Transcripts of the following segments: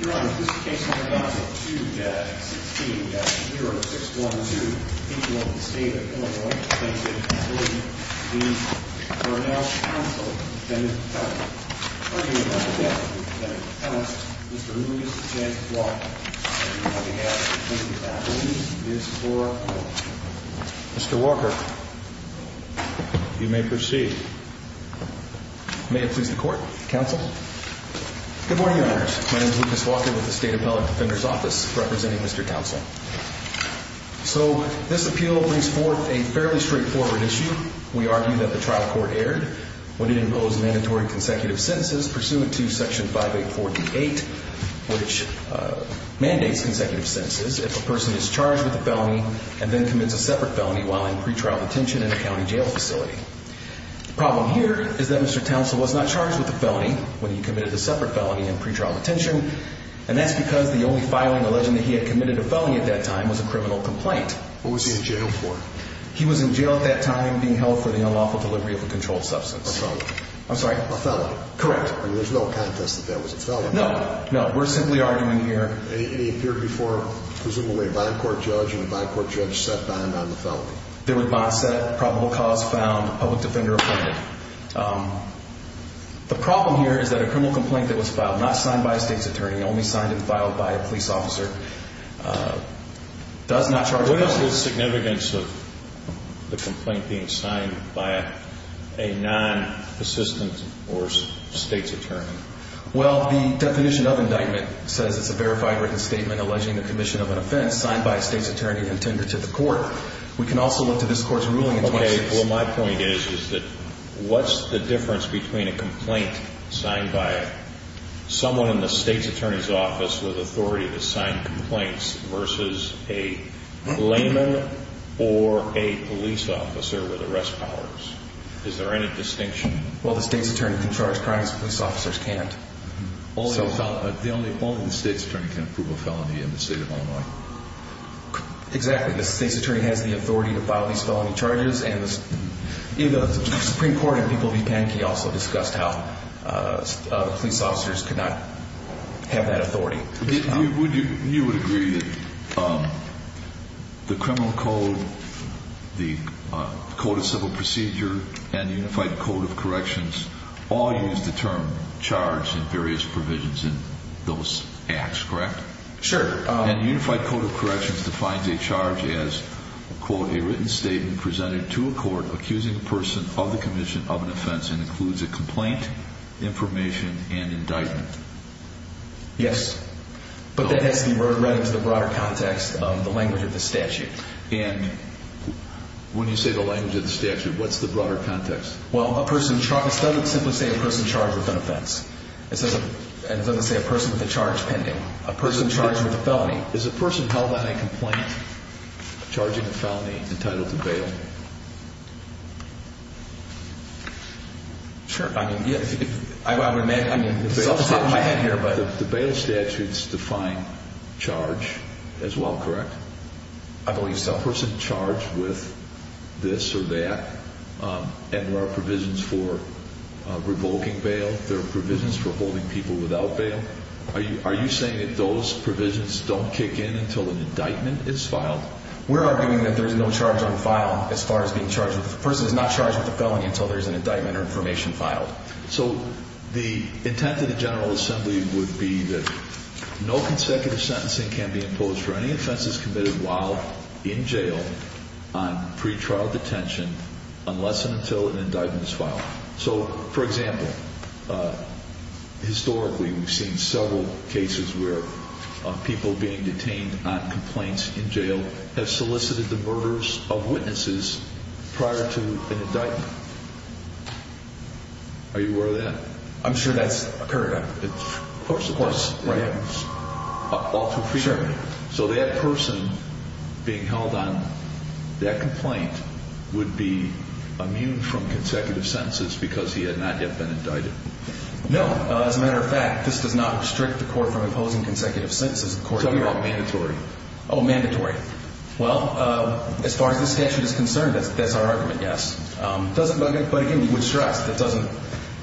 Your Honor, this is case number 2-16-0612, in the state of Illinois. Plaintiff is William D. Cornell Townsel, defendant of felony. Arguing that the death of the defendant of felony, Mr. Lewis, is a chance to fly. On behalf of the plaintiff's family, this court is adjourned. Mr. Walker, you may proceed. May it please the court, counsel. Good morning, Your Honors. My name is Lucas Walker with the State Appellate Defender's Office, representing Mr. Townsel. So, this appeal brings forth a fairly straightforward issue. We argue that the trial court erred when it imposed mandatory consecutive sentences, pursuant to Section 584D-8, which mandates consecutive sentences if a person is charged with a felony, and then commits a separate felony while in pretrial detention in a county jail facility. The problem here is that Mr. Townsel was not charged with a felony when he committed a separate felony in pretrial detention, and that's because the only filing alleging that he had committed a felony at that time was a criminal complaint. What was he in jail for? He was in jail at that time being held for the unlawful delivery of a controlled substance. A felony. I'm sorry? A felony. Correct. I mean, there's no contest that that was a felony. No, no. We're simply arguing here... It appeared before, presumably a bond court judge, and the bond court judge sat down on the felony. There were bonds set, probable cause found, public defender appointed. The problem here is that a criminal complaint that was filed, not signed by a state's attorney, only signed and filed by a police officer, does not charge a felony. What is the significance of the complaint being signed by a non-assistant or state's attorney? Well, the definition of indictment says it's a verified written statement alleging the commission of an offense signed by a state's attorney and tendered to the court. We can also look to this court's ruling in 2016. Okay. Well, my point is, is that what's the difference between a complaint signed by someone in the state's attorney's office with authority to sign complaints versus a layman or a police officer with arrest powers? Is there any distinction? Well, the state's attorney can charge crimes police officers can't. The only opponent the state's attorney can approve a felony in the state of Illinois. Exactly. The state's attorney has the authority to file these felony charges. And the Supreme Court in People v. Pankey also discussed how police officers could not have that authority. You would agree that the Criminal Code, the Code of Civil Procedure, and the Unified Code of Corrections all use the term charge in various provisions in those acts, correct? Sure. And the Unified Code of Corrections defines a charge as, quote, a written statement presented to a court accusing a person of the commission of an offense and includes a complaint, information, and indictment. Yes. But that has to be read into the broader context of the language of the statute. And when you say the language of the statute, what's the broader context? Well, a person charges, it doesn't simply say a person charged with an offense. It doesn't say a person with a charge pending. A person charged with a felony. Is a person held on a complaint charging a felony entitled to bail? Sure. I would imagine. The bail statutes define charge as well, correct? I believe so. A person charged with this or that, and there are provisions for revoking bail. There are provisions for holding people without bail. Are you saying that those provisions don't kick in until an indictment is filed? We're arguing that there's no charge on file as far as being charged. A person is not charged with a felony until there's an indictment or information filed. So the intent of the General Assembly would be that no consecutive sentencing can be imposed for any offenses committed while in jail on pretrial detention unless and until an indictment is filed. So, for example, historically we've seen several cases where people being detained on complaints in jail have solicited the murders of witnesses prior to an indictment. Are you aware of that? I'm sure that's occurred. Of course, of course. All too frequently. So that person being held on that complaint would be immune from consecutive sentences because he had not yet been indicted? No. As a matter of fact, this does not restrict the court from imposing consecutive sentences. So you're talking about mandatory? Oh, mandatory. Well, as far as the statute is concerned, that's our argument, yes. But again, we would stress that doesn't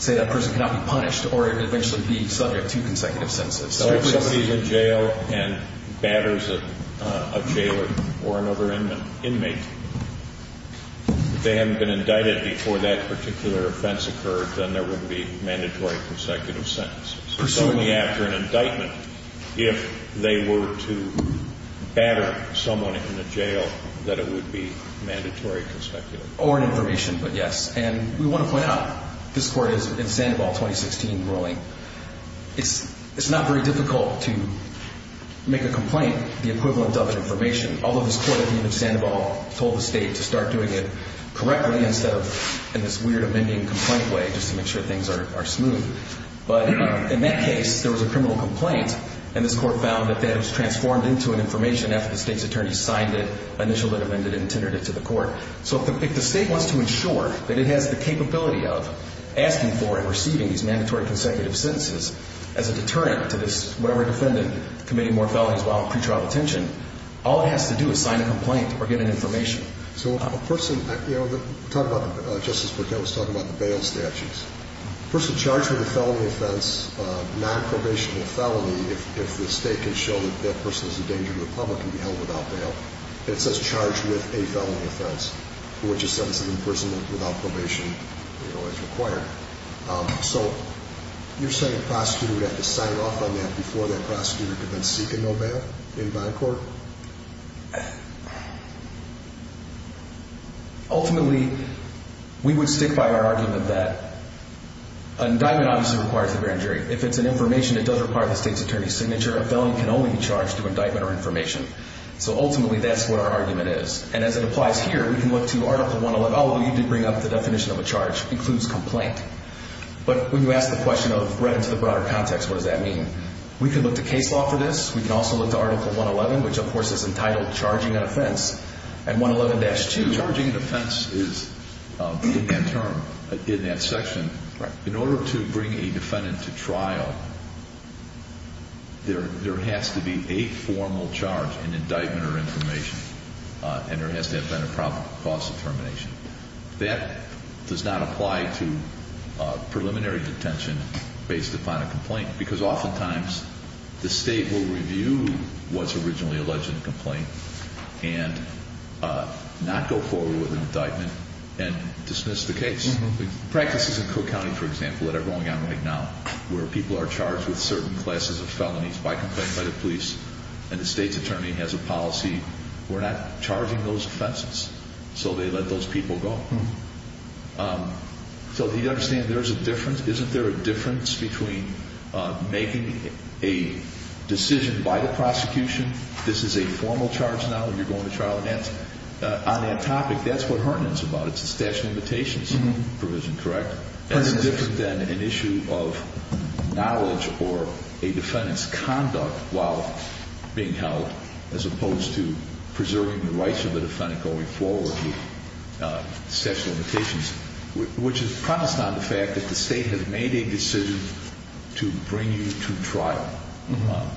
say that person cannot be punished or eventually be subject to consecutive sentences. So if somebody's in jail and batters a jailer or another inmate, if they haven't been indicted before that particular offense occurred, then there would be mandatory consecutive sentences. Presumably. So only after an indictment, if they were to batter someone in a jail, that it would be mandatory consecutive sentences. Or an information, but yes. And we want to point out, this court is in Sandoval 2016 ruling. It's not very difficult to make a complaint the equivalent of an information, although this court at the end of Sandoval told the state to start doing it correctly instead of in this weird amending complaint way just to make sure things are smooth. But in that case, there was a criminal complaint, and this court found that that was transformed into an information after the state's attorney signed it, initialed it, amended it, and tendered it to the court. So if the state wants to ensure that it has the capability of asking for and receiving these mandatory consecutive sentences as a deterrent to this, whatever defendant committing more felonies while in pretrial detention, all it has to do is sign a complaint or get an information. So a person, you know, talk about, Justice Burkett was talking about the bail statutes. A person charged with a felony offense, nonprobational felony, if the state can show that that person is a danger to the public and be held without bail, it says charged with a felony offense, which is sentence of imprisonment without probation, you know, as required. So you're saying a prosecutor would have to sign off on that before that prosecutor could then seek a no bail in bond court? Ultimately, we would stick by our argument that an indictment obviously requires a grand jury. If it's an information that does require the state's attorney's signature, a felony can only be charged through indictment or information. So ultimately, that's what our argument is. And as it applies here, we can look to Article 111. Oh, you did bring up the definition of a charge. Includes complaint. But when you ask the question of right into the broader context, what does that mean? We can look to case law for this. We can also look to Article 111, which of course is entitled Charging an Offense. And 111-2. Charging an offense is that term in that section. In order to bring a defendant to trial, there has to be a formal charge in indictment or information. And there has to have been a proper cause of termination. That does not apply to preliminary detention based upon a complaint. Because oftentimes, the state will review what's originally alleged in the complaint and not go forward with an indictment and dismiss the case. Practices in Cook County, for example, that are going on right now where people are charged with certain classes of felonies by complaint by the police and the state's attorney has a policy, we're not charging those offenses. So they let those people go. So do you understand there's a difference? Isn't there a difference between making a decision by the prosecution, this is a formal charge now and you're going to trial? On that topic, that's what Herndon's about. It's a statute of limitations provision, correct? That's different than an issue of knowledge or a defendant's conduct while being held as opposed to preserving the rights of the defendant going forward with statute of limitations, which is promised on the fact that the state has made a decision to bring you to trial.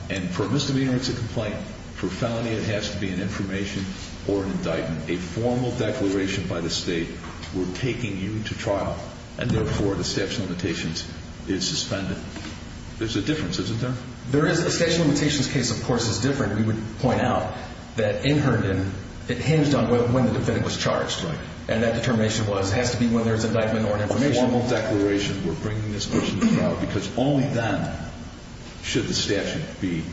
And for a misdemeanor, it's a complaint. For a felony, it has to be an information or an indictment. A formal declaration by the state, we're taking you to trial. And therefore, the statute of limitations is suspended. There's a difference, isn't there? There is. The statute of limitations case, of course, is different. We would point out that in Herndon, it hinged on when the defendant was charged. Right. And that determination has to be whether it's an indictment or an information. A formal declaration, we're bringing this person to trial because only then should the statute be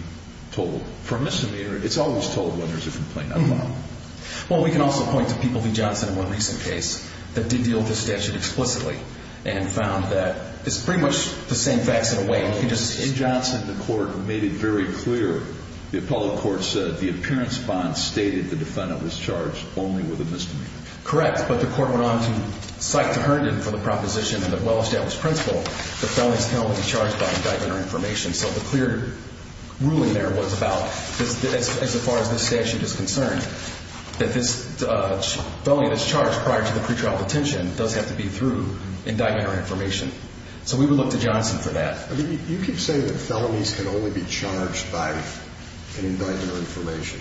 told. For a misdemeanor, it's always told whether it's a complaint or not. Well, we can also point to People v. Johnson in one recent case that did deal with the statute explicitly and found that it's pretty much the same facts in a way. In Johnson, the court made it very clear. The appellate court said the appearance bond stated the defendant was charged only with a misdemeanor. Correct. But the court went on to cite Herndon for the proposition in the well-established principle that felonies cannot be charged by indictment or information. So the clear ruling there was about, as far as this statute is concerned, that this felony that's charged prior to the pretrial detention does have to be through indictment or information. So we would look to Johnson for that. I mean, you keep saying that felonies can only be charged by an indictment or information.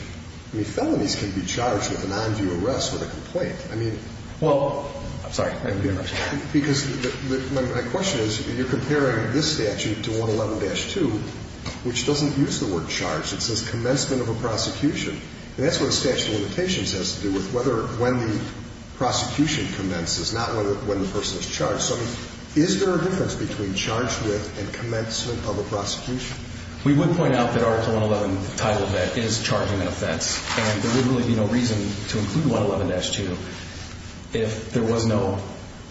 I mean, felonies can be charged with an on-view arrest with a complaint. Well, I'm sorry. Because my question is, you're comparing this statute to 111-2, which doesn't use the word charged. It says commencement of a prosecution. And that's what a statute of limitations has to do with whether when the prosecution commences, not when the person is charged. So is there a difference between charged with and commencement of a prosecution? We would point out that Article 111 titled that is charging an offense, and there would really be no reason to include 111-2 if there was no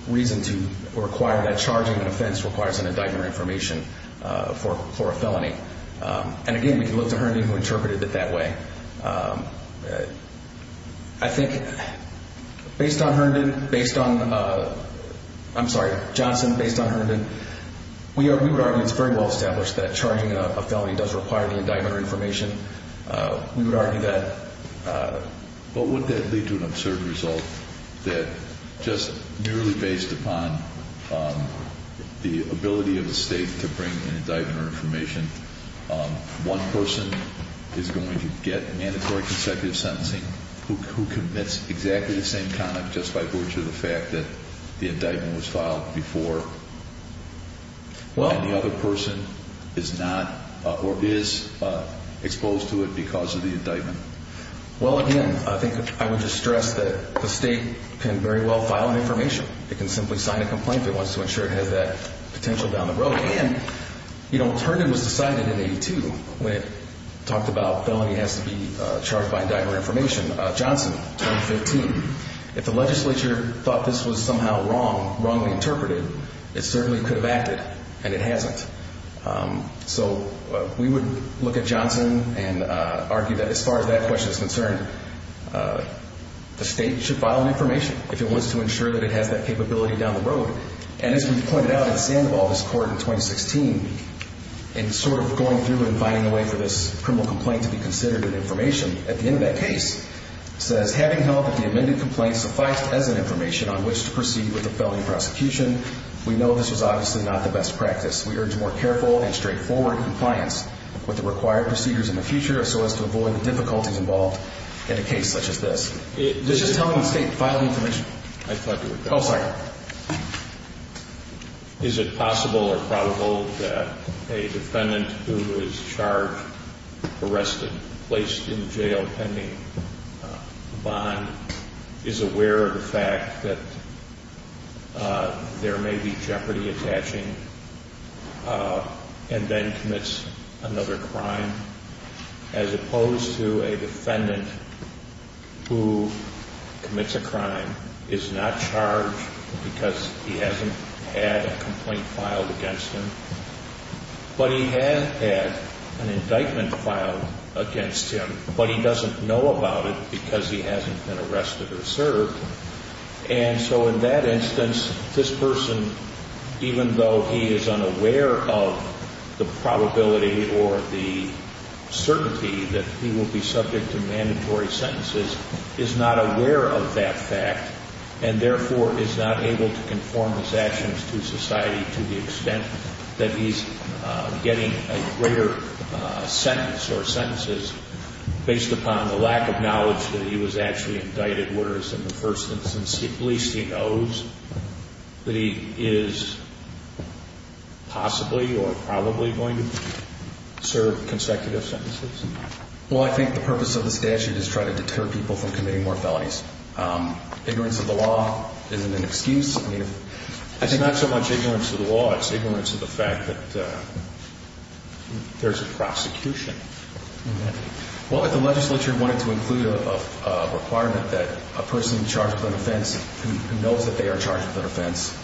reason to require that charging an offense requires an indictment or information for a felony. And, again, we can look to Herndon who interpreted it that way. I think based on Herndon, based on, I'm sorry, Johnson, based on Herndon, we would argue it's very well-established that charging a felony does require the indictment or information. We would argue that. But would that lead to an absurd result that just merely based upon the ability of the state to bring an indictment or information, one person is going to get mandatory consecutive sentencing who commits exactly the same conduct just by virtue of the fact that the indictment was filed before. And the other person is not or is exposed to it because of the indictment. Well, again, I think I would just stress that the state can very well file an information. It can simply sign a complaint if it wants to ensure it has that potential down the road. And, you know, Herndon was decided in 82 when it talked about felony has to be charged by indictment or information. Johnson, 2015, if the legislature thought this was somehow wrong, wrongly interpreted, it certainly could have acted, and it hasn't. So we would look at Johnson and argue that as far as that question is concerned, the state should file an information if it wants to ensure that it has that capability down the road. And as we've pointed out at the sand of all this court in 2016, in sort of going through and finding a way for this criminal complaint to be considered an information, at the end of that case, it says, Having held that the amended complaint sufficed as an information on which to proceed with the felony prosecution, we know this was obviously not the best practice. We urge more careful and straightforward compliance with the required procedures in the future so as to avoid the difficulties involved in a case such as this. It's just telling the state to file an information. I thought you were going to say something. Oh, sorry. Is it possible or probable that a defendant who is charged, arrested, placed in jail pending bond, is aware of the fact that there may be jeopardy attaching and then commits another crime, as opposed to a defendant who commits a crime, is not charged because he hasn't had a complaint filed against him, but he has had an indictment filed against him, but he doesn't know about it because he hasn't been arrested or served. And so in that instance, this person, even though he is unaware of the probability or the certainty that he will be subject to mandatory sentences, is not aware of that fact and, therefore, is not able to conform his actions to society to the extent that he's getting a greater sentence or sentences based upon the lack of knowledge that he was actually indicted, whereas in the first instance, at least he knows that he is possibly or probably going to serve consecutive sentences. Well, I think the purpose of the statute is to try to deter people from committing more felonies. Ignorance of the law isn't an excuse. It's not so much ignorance of the law. It's ignorance of the fact that there's a prosecution. Well, if the legislature wanted to include a requirement that a person charged with an offense who knows that they are charged with an offense,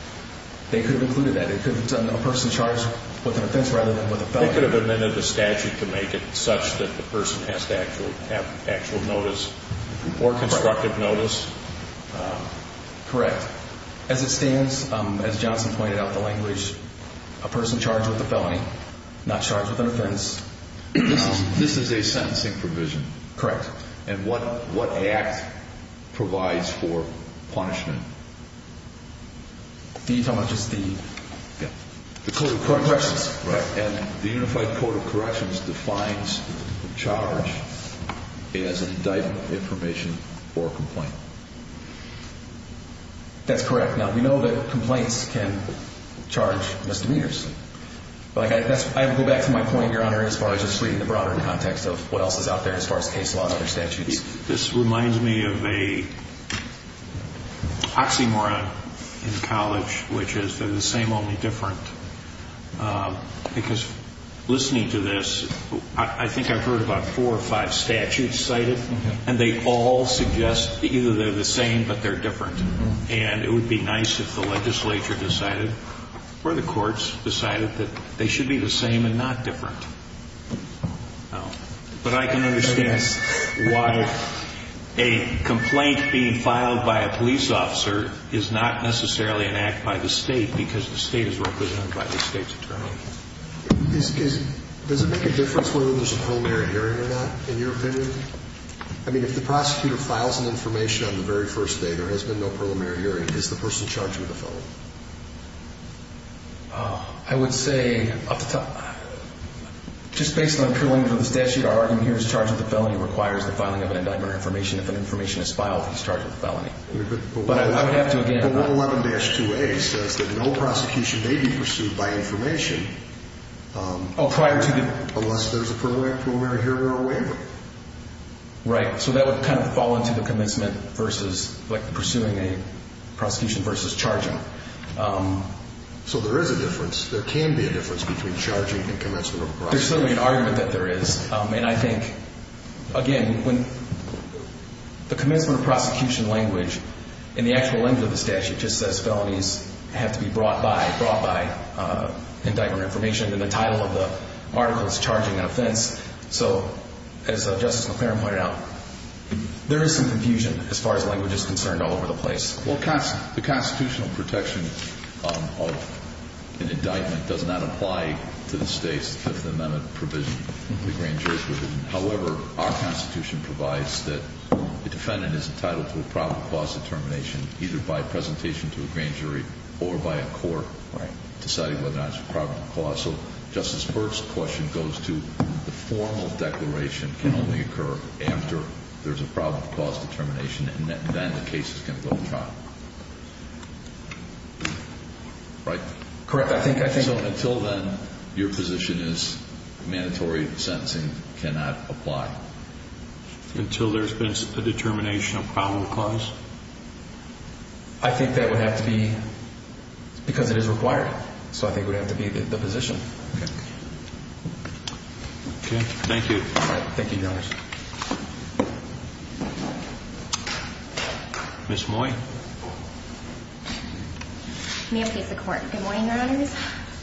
they could have included that. It could have been a person charged with an offense rather than with a felony. They could have amended the statute to make it such that the person has to have actual notice or constructive notice. Correct. As it stands, as Johnson pointed out, the language, a person charged with a felony, not charged with an offense. This is a sentencing provision. Correct. And what act provides for punishment? How much is the? The Code of Corrections. And the Unified Code of Corrections defines charge as indictment, information, or complaint. That's correct. Now, we know that complaints can charge misdemeanors. But I go back to my point, Your Honor, as far as just reading the broader context of what else is out there as far as case law and other statutes. This reminds me of a oxymoron in college, which is they're the same, only different. Because listening to this, I think I've heard about four or five statutes cited, and they all suggest that either they're the same, but they're different. And it would be nice if the legislature decided or the courts decided that they should be the same and not different. But I can understand why a complaint being filed by a police officer is not necessarily an act by the state because the state is represented by the state's attorney. Does it make a difference whether there's a preliminary hearing or not, in your opinion? I mean, if the prosecutor files an information on the very first day, there has been no preliminary hearing. Is the person charged with a felony? I would say up to the top. Just based on the preliminaries of the statute, our argument here is the charge of the felony requires the filing of an indictment or information. If an information is filed, he's charged with a felony. But I would have to, again— But 111-2A says that no prosecution may be pursued by information— Right, so that would kind of fall into the commencement versus pursuing a prosecution versus charging. So there is a difference. There can be a difference between charging and commencement of a prosecution. There's certainly an argument that there is. And I think, again, when the commencement of prosecution language in the actual language of the statute just says felonies have to be brought by indictment or information, then the title of the article is charging an offense. So, as Justice McClaren pointed out, there is some confusion as far as language is concerned all over the place. Well, the constitutional protection of an indictment does not apply to the State's Fifth Amendment provision, the grand jury's provision. However, our Constitution provides that the defendant is entitled to a probable cause determination either by presentation to a grand jury or by a court deciding whether or not it's a probable cause. So Justice Burke's question goes to the formal declaration can only occur after there's a probable cause determination, and then the case is going to go to trial. Right? Correct. I think— So until then, your position is mandatory sentencing cannot apply? Until there's been a determination of probable cause? I think that would have to be—because it is required. So I think it would have to be the position. Okay. Thank you. All right. Thank you, Your Honors. Ms. Moy. May it please the Court. Good morning, Your Honors.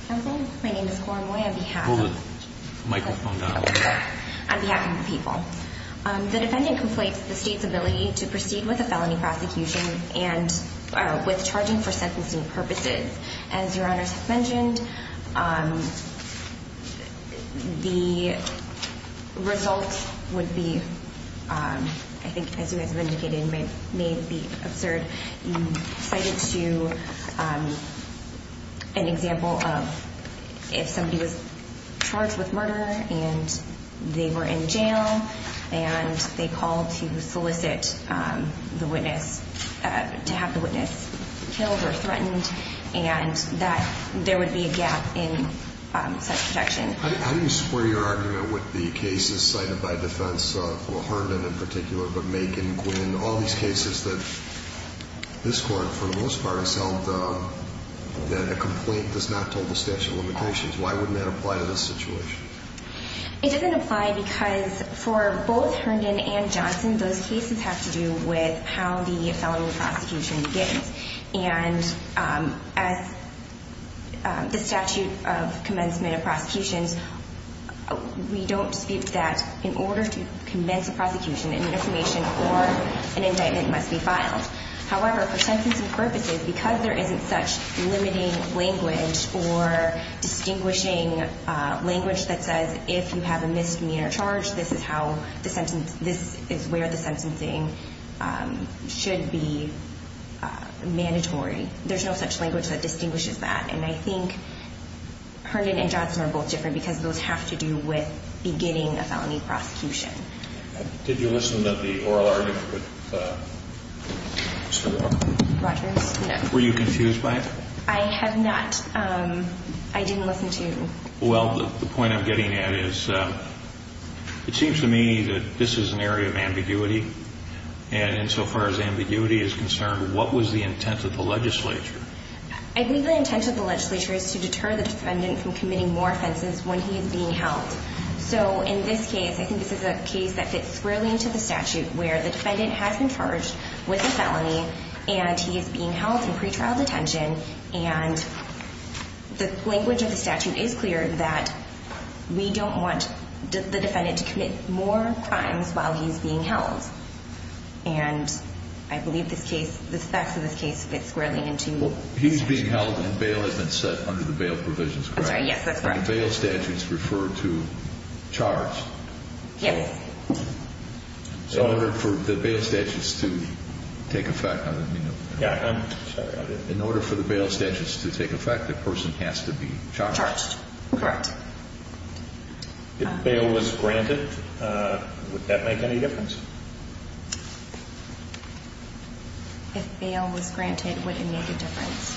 Good morning. My name is Cora Moy on behalf of— Hold the microphone down. —on behalf of the people. The defendant conflates the State's ability to proceed with a felony prosecution and with charging for sentencing purposes. As Your Honors have mentioned, the result would be—I think as you guys have indicated, it may be absurd. You cited an example of if somebody was charged with murder, and they were in jail, and they called to solicit the witness—to have the witness killed or threatened, and that there would be a gap in such protection. How do you square your argument with the cases cited by defense, Herndon in particular, but Makin, Quinn, all these cases that this Court, for the most part, has held that a complaint does not told the statute of limitations? Why wouldn't that apply to this situation? It doesn't apply because for both Herndon and Johnson, those cases have to do with how the felony prosecution begins. And as the statute of commencement of prosecutions, we don't dispute that in order to commence a prosecution, an information or an indictment must be filed. However, for sentencing purposes, because there isn't such limiting language or distinguishing language that says if you have a misdemeanor charge, this is where the sentencing should be mandatory. There's no such language that distinguishes that. And I think Herndon and Johnson are both different because those have to do with beginning a felony prosecution. Did you listen to the oral argument with Mr. Rogers? Rogers, no. Were you confused by it? I have not. I didn't listen to you. Well, the point I'm getting at is it seems to me that this is an area of ambiguity. And insofar as ambiguity is concerned, what was the intent of the legislature? I believe the intent of the legislature is to deter the defendant from committing more offenses when he is being held. So in this case, I think this is a case that fits squarely into the statute where the defendant has been charged with a felony and he is being held in pretrial detention. And the language of the statute is clear that we don't want the defendant to commit more crimes while he's being held. And I believe the facts of this case fit squarely into the statute. Well, he's being held and bail has been set under the bail provisions, correct? I'm sorry, yes, that's correct. And the bail statutes refer to charge. Yes. So in order for the bail statutes to take effect, let me know. Yeah, I'm sorry. In order for the bail statutes to take effect, the person has to be charged. Charged, correct. If bail was granted, would that make any difference? If bail was granted, would it make a difference?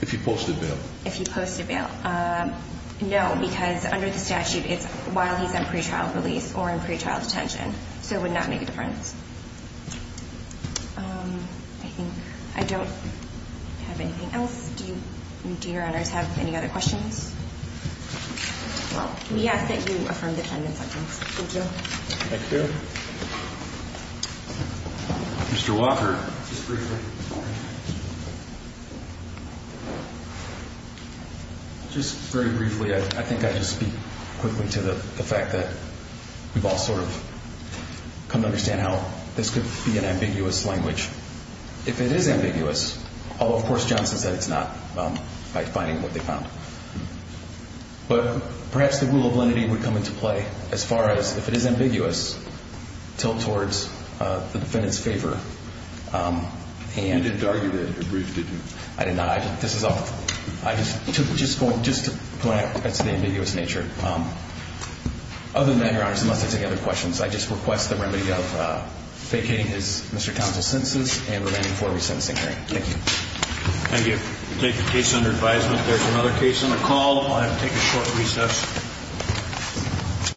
If he posted bail. If he posted bail. No, because under the statute, it's while he's in pretrial release or in pretrial detention. So it would not make a difference. I think I don't have anything else. Do your honors have any other questions? Well, we ask that you affirm the defendant's evidence. Thank you. Thank you. Mr. Walker. Mr. Walker, just briefly. Just very briefly, I think I just speak quickly to the fact that we've all sort of come to understand how this could be an ambiguous language. If it is ambiguous, although, of course, Johnson said it's not by defining what they found. But perhaps the rule of lenity would come into play as far as if it is ambiguous, tilt towards the defendant's favor. You didn't argue that at brief, did you? I did not. This is all. I just took it just to point out that's the ambiguous nature. Other than that, your honors, unless I take any other questions, I just request the remedy of vacating Mr. Townsend's sentences and remanding four-week sentencing hearing. Thank you. Thank you. We'll take the case under advisement. If there's another case on the call, I'll have to take a short recess.